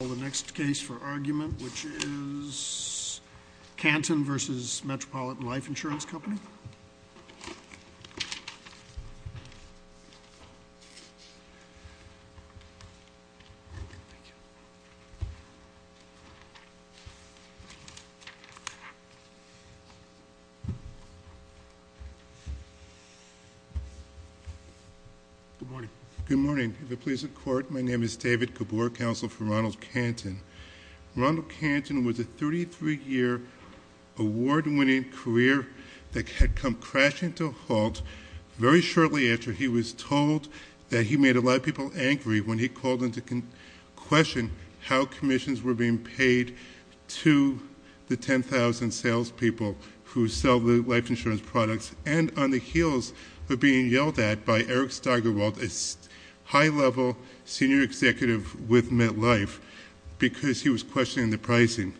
The next case for argument, which is Canton v. Metropolitan Life Insurance Company. Good morning. Good morning. If it pleases the court, my name is David Gabor, counsel for Ronald Canton. Ronald Canton was a 33-year award-winning career that had come crashing to a halt very shortly after he was told that he made a lot of people angry when he called into question how commissions were being paid to the 10,000 salespeople who sell the life insurance products and on the heels of being yelled at by Eric Steigerwald, a high-level senior executive with MetLife, because he was questioning the pricing.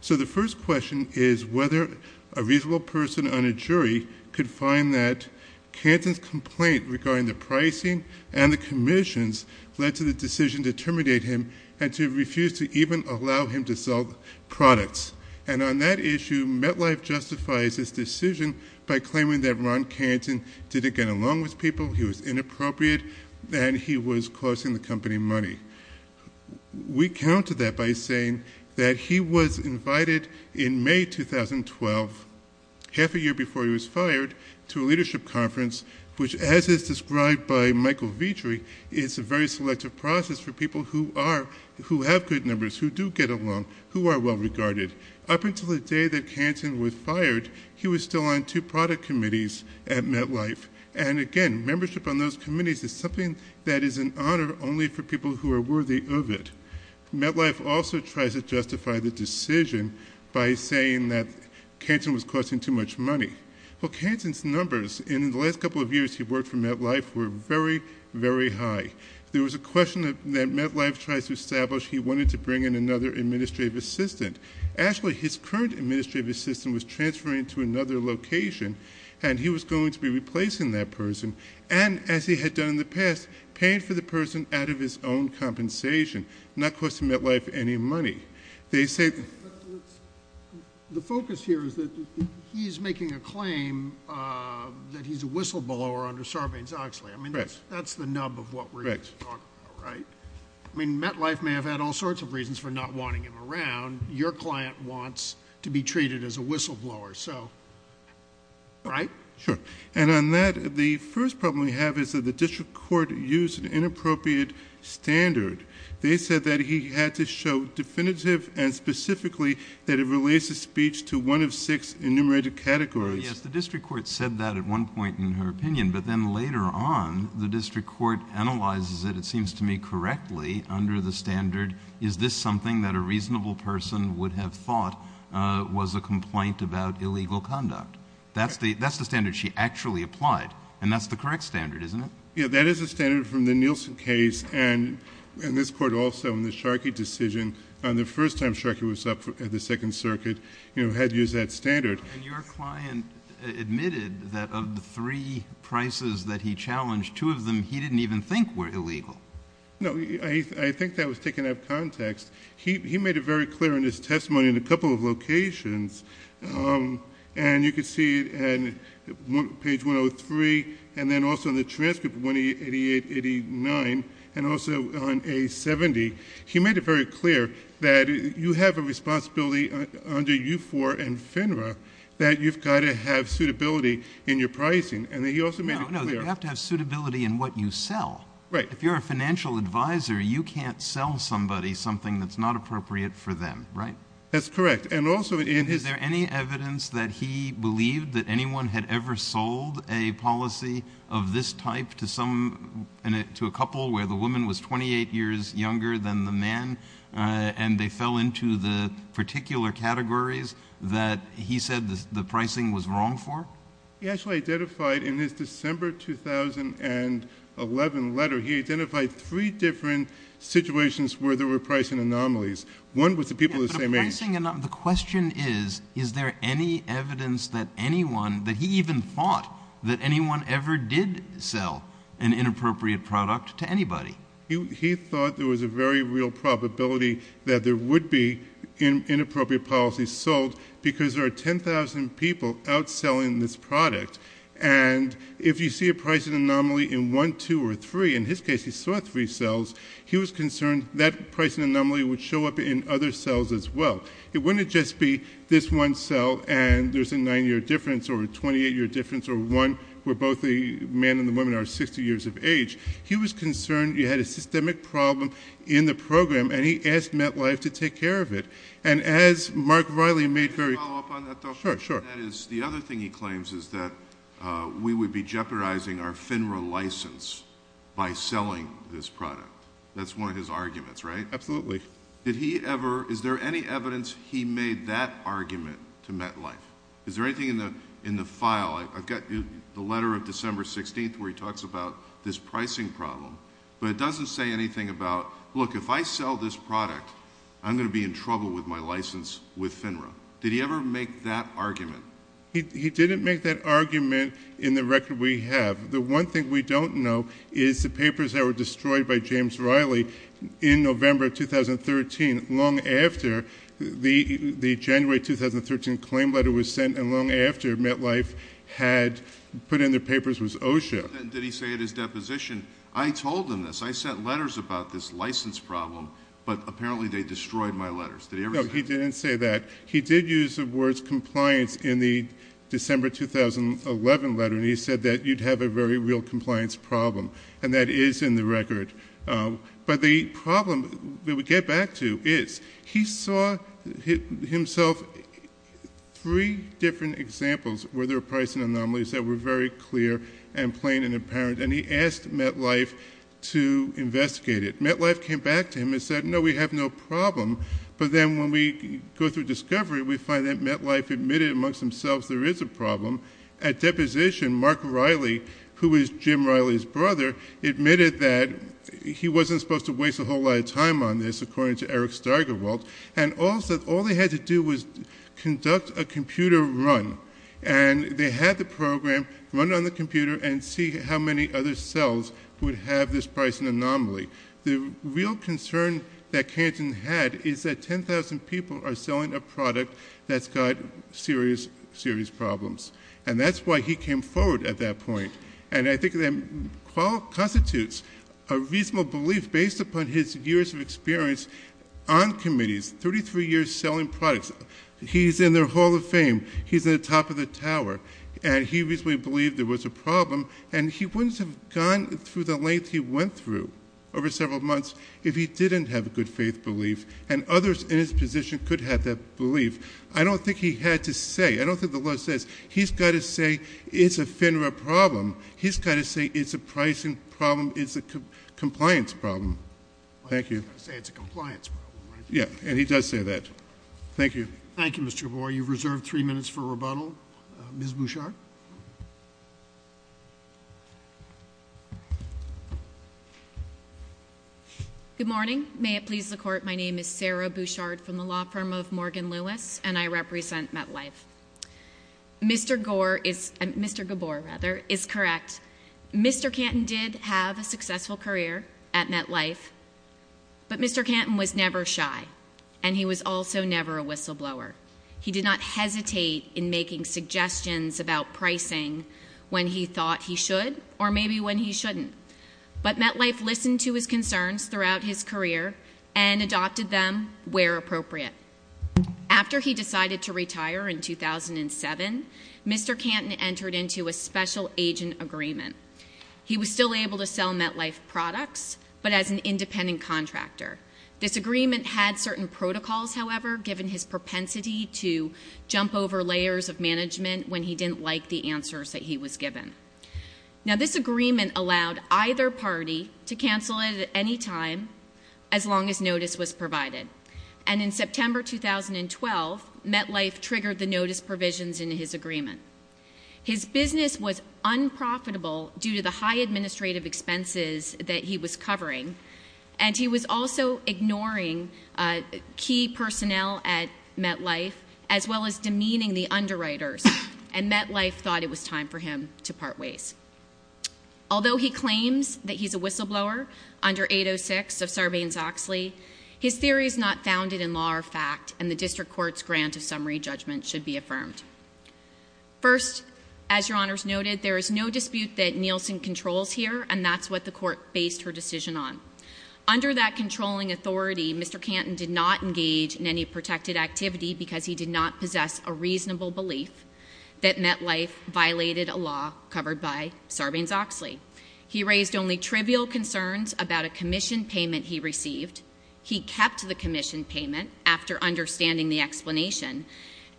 So the first question is whether a reasonable person on a jury could find that Canton's complaint regarding the pricing and the commissions led to the decision to terminate him and to refuse to even allow him to sell products. And on that issue, MetLife justifies its decision by claiming that Ron Canton didn't get along with people, he was inappropriate, and he was costing the company money. We counter that by saying that he was invited in May 2012, half a year before he was fired, to a leadership conference which, as is described by Michael Vietri, is a very selective process for people who have good numbers, who do get along, who are well-regarded. Up until the day that Canton was fired, he was still on two product committees at MetLife, and again, membership on those committees is something that is an honor only for people who are worthy of it. MetLife also tries to justify the decision by saying that Canton was costing too much money. Well, Canton's numbers in the last couple of years he worked for MetLife were very, very high. There was a question that MetLife tried to establish he wanted to bring in another administrative assistant. Actually, his current administrative assistant was transferring to another location, and he was going to be replacing that person, and as he had done in the past, paying for the person out of his own compensation, not costing MetLife any money. The focus here is that he's making a claim that he's a whistleblower under Sarbanes-Oxley. I mean, that's the nub of what we're going to talk about, right? I mean, MetLife may have had all sorts of reasons for not wanting him around. Your client wants to be treated as a whistleblower, so, right? Sure, and on that, the first problem we have is that the district court used an inappropriate standard. They said that he had to show definitive and specifically that it relates to speech to one of six enumerated categories. Well, yes, the district court said that at one point in her opinion, but then later on the district court analyzes it, it seems to me, correctly under the standard, is this something that a reasonable person would have thought was a complaint about illegal conduct? That's the standard she actually applied, and that's the correct standard, isn't it? Yeah, that is a standard from the Nielsen case and this court also in the Sharkey decision. The first time Sharkey was up at the Second Circuit, you know, had to use that standard. And your client admitted that of the three prices that he challenged, two of them he didn't even think were illegal. No, I think that was taken out of context. He made it very clear in his testimony in a couple of locations, and you can see it on page 103 and then also in the transcript, 188, 89, and also on A70. He made it very clear that you have a responsibility under U4 and FINRA that you've got to have suitability in your pricing. No, no, you have to have suitability in what you sell. Right. If you're a financial advisor, you can't sell somebody something that's not appropriate for them, right? That's correct. Is there any evidence that he believed that anyone had ever sold a policy of this type to a couple where the woman was 28 years younger than the man and they fell into the particular categories that he said the pricing was wrong for? He actually identified in his December 2011 letter, he identified three different situations where there were pricing anomalies. One was the people the same age. The question is, is there any evidence that anyone, that he even thought that anyone ever did sell an inappropriate product to anybody? He thought there was a very real probability that there would be inappropriate policies sold because there are 10,000 people outselling this product, and if you see a pricing anomaly in one, two, or three, in his case, he saw three cells, he was concerned that pricing anomaly would show up in other cells as well. It wouldn't just be this one cell and there's a nine-year difference or a 28-year difference or one where both the man and the woman are 60 years of age. He was concerned you had a systemic problem in the program, and he asked MetLife to take care of it. And as Mark Riley made very clear— Can I follow up on that, though? Sure, sure. The other thing he claims is that we would be jeopardizing our FINRA license by selling this product. That's one of his arguments, right? Absolutely. Did he ever—is there any evidence he made that argument to MetLife? Is there anything in the file? I've got the letter of December 16th where he talks about this pricing problem, but it doesn't say anything about, look, if I sell this product, I'm going to be in trouble with my license with FINRA. Did he ever make that argument? He didn't make that argument in the record we have. The one thing we don't know is the papers that were destroyed by James Riley in November 2013, long after the January 2013 claim letter was sent and long after MetLife had put in their papers was OSHA. Did he say at his deposition, I told them this, I sent letters about this license problem, but apparently they destroyed my letters? No, he didn't say that. He did use the words compliance in the December 2011 letter, and he said that you'd have a very real compliance problem, and that is in the record. But the problem that we get back to is he saw himself three different examples where there were pricing anomalies that were very clear and plain and apparent, and he asked MetLife to investigate it. MetLife came back to him and said, no, we have no problem. But then when we go through discovery, we find that MetLife admitted amongst themselves there is a problem. At deposition, Mark Riley, who is Jim Riley's brother, admitted that he wasn't supposed to waste a whole lot of time on this, according to Eric Steigerwald, and all they had to do was conduct a computer run, and they had the program run on the computer and see how many other cells would have this pricing anomaly. The real concern that Canton had is that 10,000 people are selling a product that's got serious, serious problems, and that's why he came forward at that point, and I think that constitutes a reasonable belief based upon his years of experience on committees, 33 years selling products. He's in their Hall of Fame. He's at the top of the tower, and he reasonably believed there was a problem, and he wouldn't have gone through the length he went through over several months if he didn't have a good faith belief, and others in his position could have that belief. I don't think he had to say. I don't think the law says. He's got to say it's a FINRA problem. He's got to say it's a pricing problem. It's a compliance problem. Thank you. He's got to say it's a compliance problem, right? Yeah, and he does say that. Thank you. Thank you, Mr. Gabor. You've reserved three minutes for rebuttal. Ms. Bouchard? Good morning. May it please the Court, my name is Sarah Bouchard from the law firm of Morgan Lewis, and I represent MetLife. Mr. Gabor is correct. Mr. Canton did have a successful career at MetLife, but Mr. Canton was never shy, and he was also never a whistleblower. He did not hesitate in making suggestions about pricing when he thought he should or maybe when he shouldn't, but MetLife listened to his concerns throughout his career and adopted them where appropriate. After he decided to retire in 2007, Mr. Canton entered into a special agent agreement. He was still able to sell MetLife products, but as an independent contractor. This agreement had certain protocols, however, given his propensity to jump over layers of management when he didn't like the answers that he was given. Now, this agreement allowed either party to cancel it at any time as long as notice was provided, and in September 2012, MetLife triggered the notice provisions in his agreement. His business was unprofitable due to the high administrative expenses that he was covering, and he was also ignoring key personnel at MetLife as well as demeaning the underwriters, and MetLife thought it was time for him to part ways. Although he claims that he's a whistleblower under 806 of Sarbanes-Oxley, his theory is not founded in law or fact, and the district court's grant of summary judgment should be affirmed. First, as Your Honors noted, there is no dispute that Nielsen controls here, and that's what the court based her decision on. Under that controlling authority, Mr. Canton did not engage in any protected activity because he did not possess a reasonable belief that MetLife violated a law covered by Sarbanes-Oxley. He raised only trivial concerns about a commission payment he received. He kept the commission payment after understanding the explanation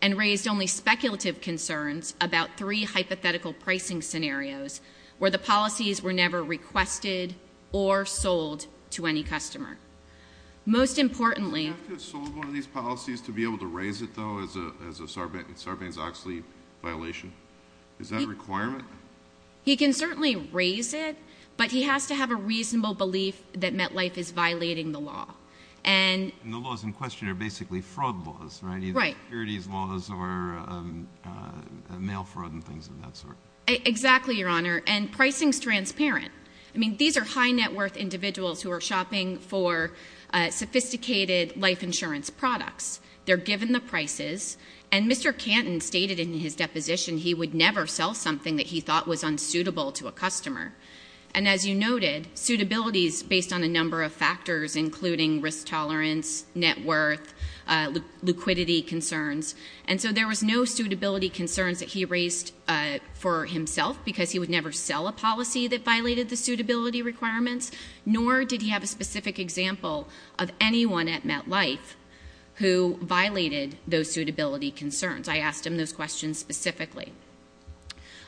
and raised only speculative concerns about three hypothetical pricing scenarios where the policies were never requested or sold to any customer. Most importantly— Did MetLife have to have sold one of these policies to be able to raise it, though, as a Sarbanes-Oxley violation? Is that a requirement? He can certainly raise it, but he has to have a reasonable belief that MetLife is violating the law. And— And the laws in question are basically fraud laws, right? Right. Either securities laws or mail fraud and things of that sort. Exactly, Your Honor. And pricing's transparent. I mean, these are high net worth individuals who are shopping for sophisticated life insurance products. They're given the prices, and Mr. Canton stated in his deposition he would never sell something that he thought was unsuitable to a customer. And as you noted, suitability is based on a number of factors, including risk tolerance, net worth, liquidity concerns. And so there was no suitability concerns that he raised for himself because he would never sell a policy that violated the suitability requirements, nor did he have a specific example of anyone at MetLife who violated those suitability concerns. I asked him those questions specifically.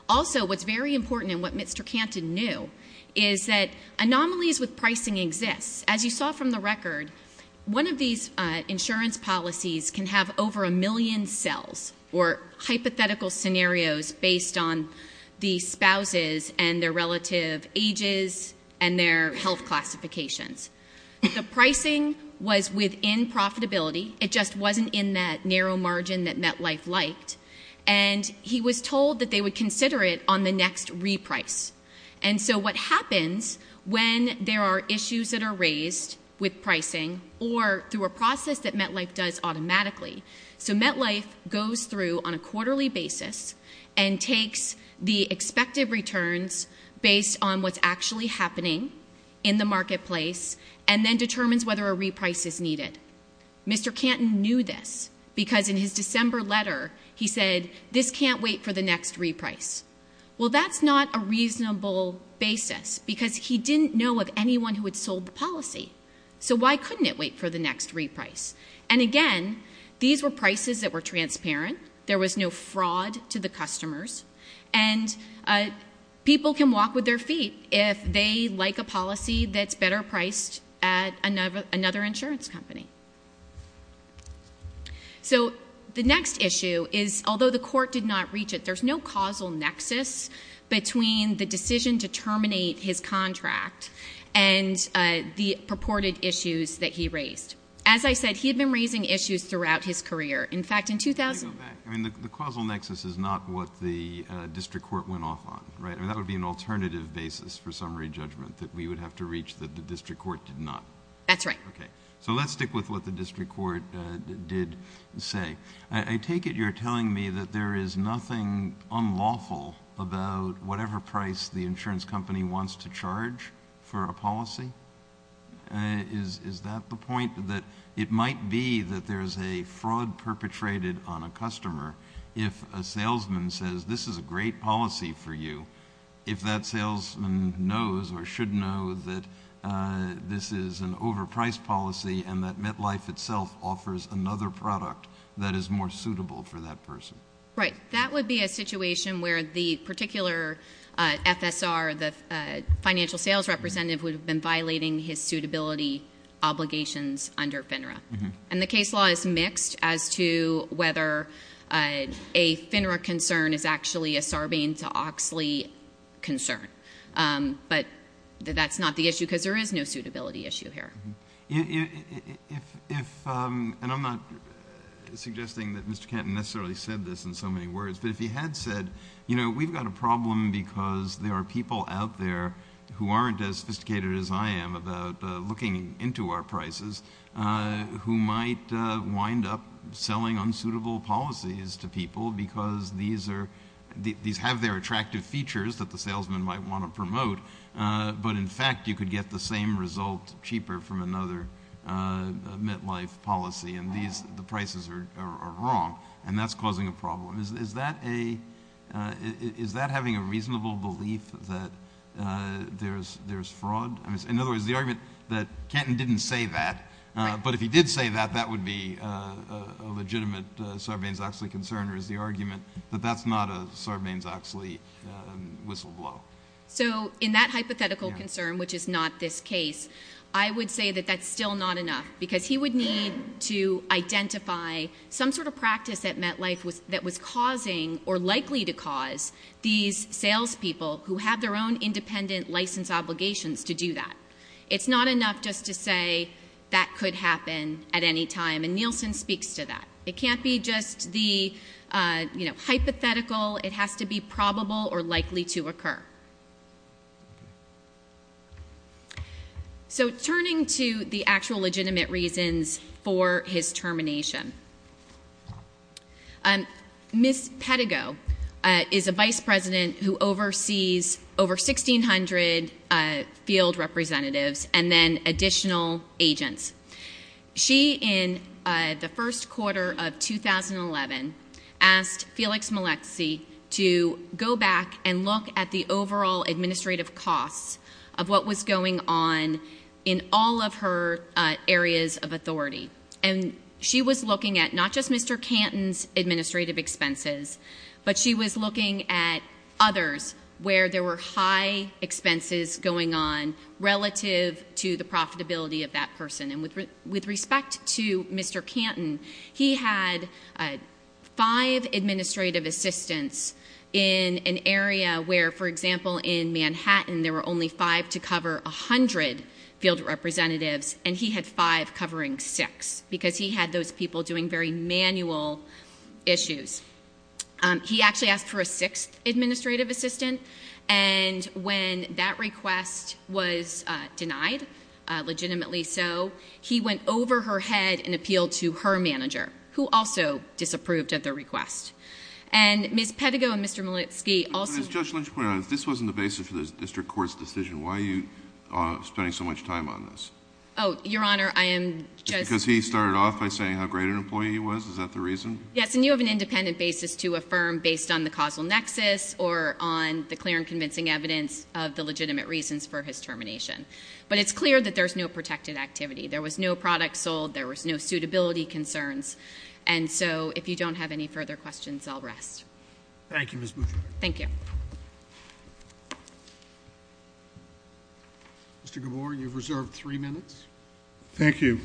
Also, what's very important and what Mr. Canton knew is that anomalies with pricing exist. As you saw from the record, one of these insurance policies can have over a million cells or hypothetical scenarios based on the spouses and their relative ages and their health classifications. The pricing was within profitability. It just wasn't in that narrow margin that MetLife liked. And he was told that they would consider it on the next reprice. And so what happens when there are issues that are raised with pricing or through a process that MetLife does automatically, so MetLife goes through on a quarterly basis and takes the expected returns based on what's actually happening in the marketplace and then determines whether a reprice is needed. Mr. Canton knew this because in his December letter he said this can't wait for the next reprice. Well, that's not a reasonable basis because he didn't know of anyone who had sold the policy. So why couldn't it wait for the next reprice? And, again, these were prices that were transparent. There was no fraud to the customers. And people can walk with their feet if they like a policy that's better priced at another insurance company. So the next issue is, although the court did not reach it, there's no causal nexus between the decision to terminate his contract and the purported issues that he raised. As I said, he had been raising issues throughout his career. Let me go back. I mean, the causal nexus is not what the district court went off on, right? I mean, that would be an alternative basis for summary judgment that we would have to reach that the district court did not. That's right. Okay. So let's stick with what the district court did say. I take it you're telling me that there is nothing unlawful about whatever price the insurance company wants to charge for a policy? Is that the point? That it might be that there's a fraud perpetrated on a customer if a salesman says this is a great policy for you, if that salesman knows or should know that this is an overpriced policy and that MetLife itself offers another product that is more suitable for that person? Right. That would be a situation where the particular FSR, the financial sales representative, would have been violating his suitability obligations under FINRA. And the case law is mixed as to whether a FINRA concern is actually a Sarbanes-Oxley concern. But that's not the issue because there is no suitability issue here. And I'm not suggesting that Mr. Kenton necessarily said this in so many words, but if he had said, you know, we've got a problem because there are people out there who aren't as sophisticated as I am about looking into our prices who might wind up selling unsuitable policies to people because these have their attractive features that the salesman might want to promote, but in fact you could get the same result cheaper from another MetLife policy and the prices are wrong and that's causing a problem. Is that having a reasonable belief that there's fraud? In other words, the argument that Kenton didn't say that, but if he did say that, that would be a legitimate Sarbanes-Oxley concern, or is the argument that that's not a Sarbanes-Oxley whistleblower? So in that hypothetical concern, which is not this case, I would say that that's still not enough because he would need to identify some sort of practice at MetLife that was causing or likely to cause these salespeople who have their own independent license obligations to do that. It's not enough just to say that could happen at any time, and Nielsen speaks to that. It can't be just the hypothetical. It has to be probable or likely to occur. So turning to the actual legitimate reasons for his termination, Ms. Pedigo is a vice president who oversees over 1,600 field representatives and then additional agents. She, in the first quarter of 2011, asked Felix Maleksi to go back and look at the overall administrative costs of what was going on in all of her areas of authority. And she was looking at not just Mr. Kenton's administrative expenses, but she was looking at others where there were high expenses going on relative to the profitability of that person, and with respect to Mr. Kenton, he had five administrative assistants in an area where, for example, in Manhattan, there were only five to cover 100 field representatives, and he had five covering six because he had those people doing very manual issues. He actually asked for a sixth administrative assistant, and when that request was denied, legitimately so, he went over her head and appealed to her manager, who also disapproved of the request. And Ms. Pedigo and Mr. Maleksi also- But as Judge Lynch pointed out, if this wasn't the basis for the district court's decision, why are you spending so much time on this? Oh, Your Honor, I am just- Because he started off by saying how great an employee he was? Is that the reason? Yes, and you have an independent basis to affirm based on the causal nexus or on the clear and convincing evidence of the legitimate reasons for his termination. But it's clear that there's no protected activity. There was no product sold. There was no suitability concerns. And so if you don't have any further questions, I'll rest. Thank you, Ms. Boudreaux. Thank you. Mr. Gabor, you've reserved three minutes. Thank you.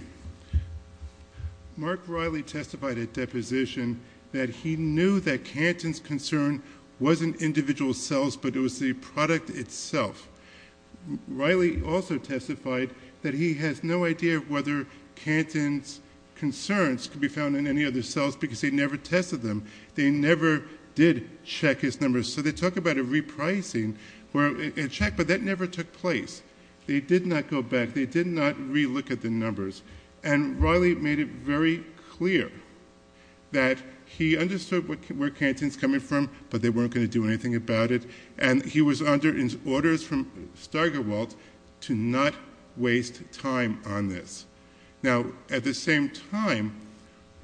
Mark Riley testified at deposition that he knew that Canton's concern wasn't individual cells, but it was the product itself. Riley also testified that he has no idea whether Canton's concerns could be found in any other cells because they never tested them. They never did check his numbers. So they talk about a repricing, a check, but that never took place. They did not go back. They did not re-look at the numbers. And Riley made it very clear that he understood where Canton's coming from, but they weren't going to do anything about it, and he was under orders from Steigerwald to not waste time on this. Now, at the same time,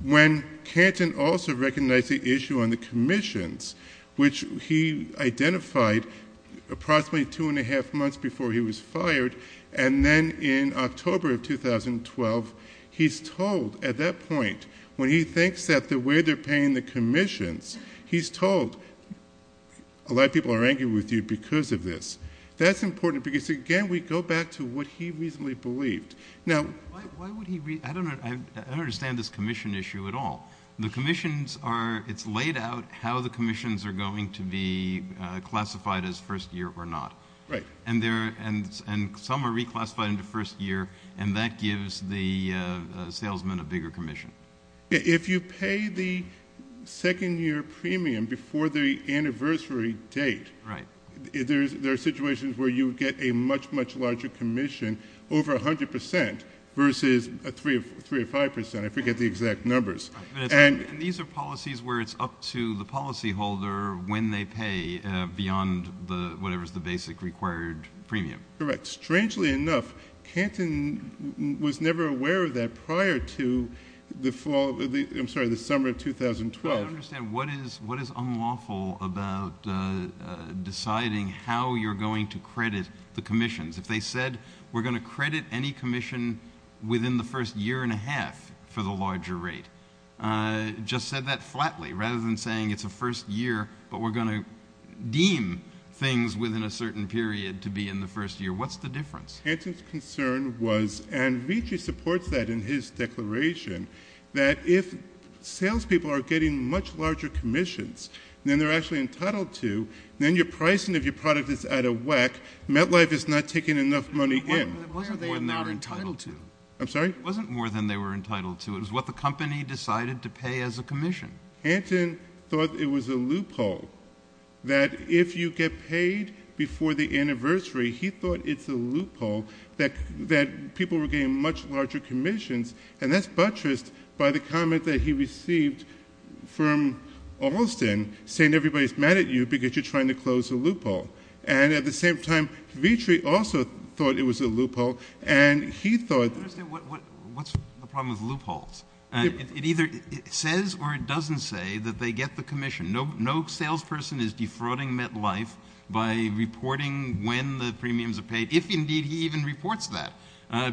when Canton also recognized the issue on the commissions, which he identified approximately two and a half months before he was fired, and then in October of 2012, he's told at that point, when he thinks that the way they're paying the commissions, he's told, a lot of people are angry with you because of this. That's important because, again, we go back to what he reasonably believed. Now, why would he be? I don't understand this commission issue at all. The commissions are laid out how the commissions are going to be classified as first year or not. Right. And some are reclassified into first year, and that gives the salesman a bigger commission. If you pay the second-year premium before the anniversary date, there are situations where you get a much, much larger commission, over 100 percent versus 3 or 5 percent. I forget the exact numbers. And these are policies where it's up to the policyholder when they pay beyond whatever is the basic required premium. Correct. Strangely enough, Canton was never aware of that prior to the fall of the ‑‑ I'm sorry, the summer of 2012. I don't understand. What is unlawful about deciding how you're going to credit the commissions? If they said, we're going to credit any commission within the first year and a half for the larger rate, just said that flatly rather than saying it's a first year, but we're going to deem things within a certain period to be in the first year. What's the difference? Canton's concern was, and Ricci supports that in his declaration, that if salespeople are getting much larger commissions than they're actually entitled to, then your pricing of your product is out of whack. MetLife is not taking enough money in. It wasn't more than they were entitled to. I'm sorry? It wasn't more than they were entitled to. It was what the company decided to pay as a commission. Canton thought it was a loophole, that if you get paid before the anniversary, he thought it's a loophole that people were getting much larger commissions, and that's buttressed by the comment that he received from Alston, saying everybody's mad at you because you're trying to close a loophole. And at the same time, Vitri also thought it was a loophole, and he thought ‑‑ I don't understand what's the problem with loopholes. It either says or it doesn't say that they get the commission. No salesperson is defrauding MetLife by reporting when the premiums are paid, if indeed he even reports that,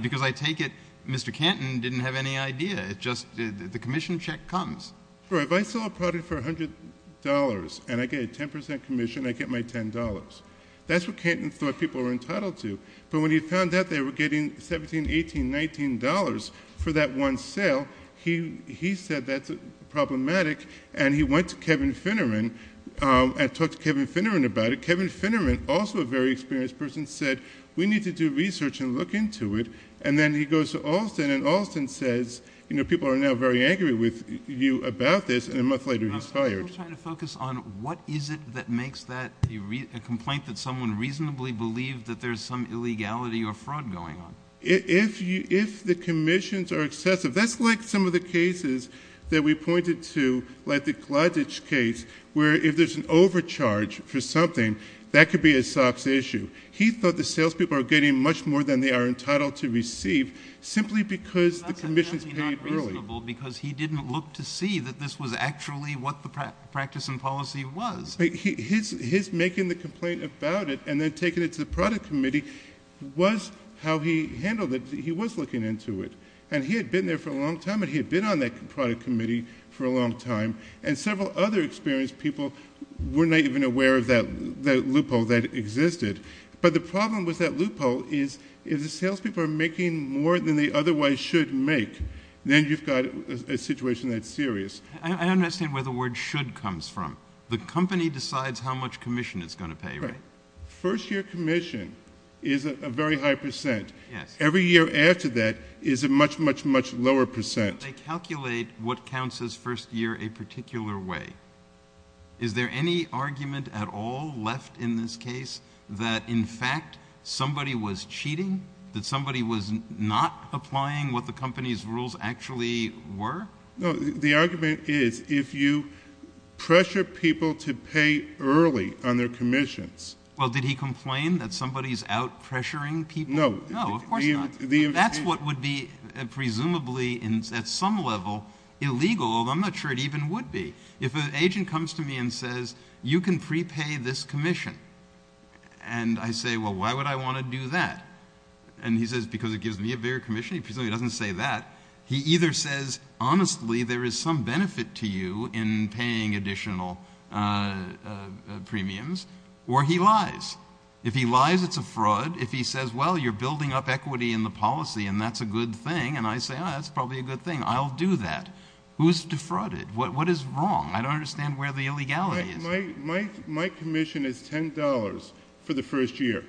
because I take it Mr. Canton didn't have any idea. The commission check comes. If I sell a product for $100 and I get a 10 percent commission, I get my $10. That's what Canton thought people were entitled to, but when he found out they were getting $17, $18, $19 for that one sale, he said that's problematic, and he went to Kevin Finneran and talked to Kevin Finneran about it. Kevin Finneran, also a very experienced person, said we need to do research and look into it, and then he goes to Alston, and Alston says people are now very angry with you about this, and a month later he's fired. I'm still trying to focus on what is it that makes that a complaint that someone reasonably believed that there's some illegality or fraud going on. If the commissions are excessive, that's like some of the cases that we pointed to, like the Glodich case where if there's an overcharge for something, that could be a SOX issue. He thought the salespeople are getting much more than they are entitled to receive simply because the commission's paid early. That's definitely not reasonable because he didn't look to see that this was actually what the practice and policy was. His making the complaint about it and then taking it to the product committee was how he handled it. He was looking into it, and he had been there for a long time, and he had been on that product committee for a long time, and several other experienced people were not even aware of that loophole that existed. But the problem with that loophole is if the salespeople are making more than they otherwise should make, then you've got a situation that's serious. I don't understand where the word should comes from. The company decides how much commission it's going to pay, right? Right. First year commission is a very high percent. Every year after that is a much, much, much lower percent. They calculate what counts as first year a particular way. Is there any argument at all left in this case that, in fact, somebody was cheating, that somebody was not applying what the company's rules actually were? No. The argument is if you pressure people to pay early on their commissions. Well, did he complain that somebody's out pressuring people? No. No, of course not. That's what would be presumably at some level illegal, although I'm not sure it even would be. If an agent comes to me and says, you can prepay this commission, and I say, well, why would I want to do that? And he says, because it gives me a bigger commission. He presumably doesn't say that. He either says, honestly, there is some benefit to you in paying additional premiums, or he lies. If he lies, it's a fraud. If he says, well, you're building up equity in the policy, and that's a good thing, and I say, oh, that's probably a good thing. I'll do that. Who's defrauded? What is wrong? I don't understand where the illegality is. My commission is $10 for the first year.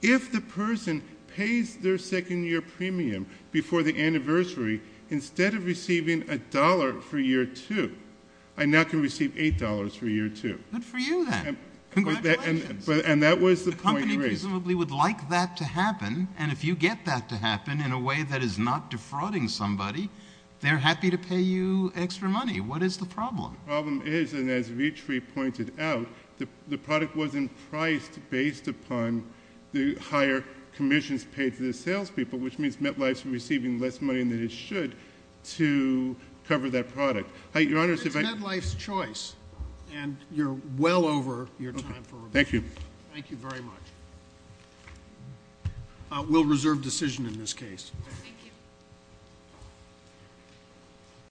If the person pays their second-year premium before the anniversary, instead of receiving $1 for year two, I now can receive $8 for year two. Good for you, then. Congratulations. And that was the point raised. The company presumably would like that to happen, and if you get that to happen in a way that is not defrauding somebody, What is the problem? The problem is, and as Vietri pointed out, the product wasn't priced based upon the higher commissions paid to the salespeople, which means MetLife is receiving less money than it should to cover that product. It's MetLife's choice, and you're well over your time. Thank you. Thank you very much. We'll reserve decision in this case. Thank you.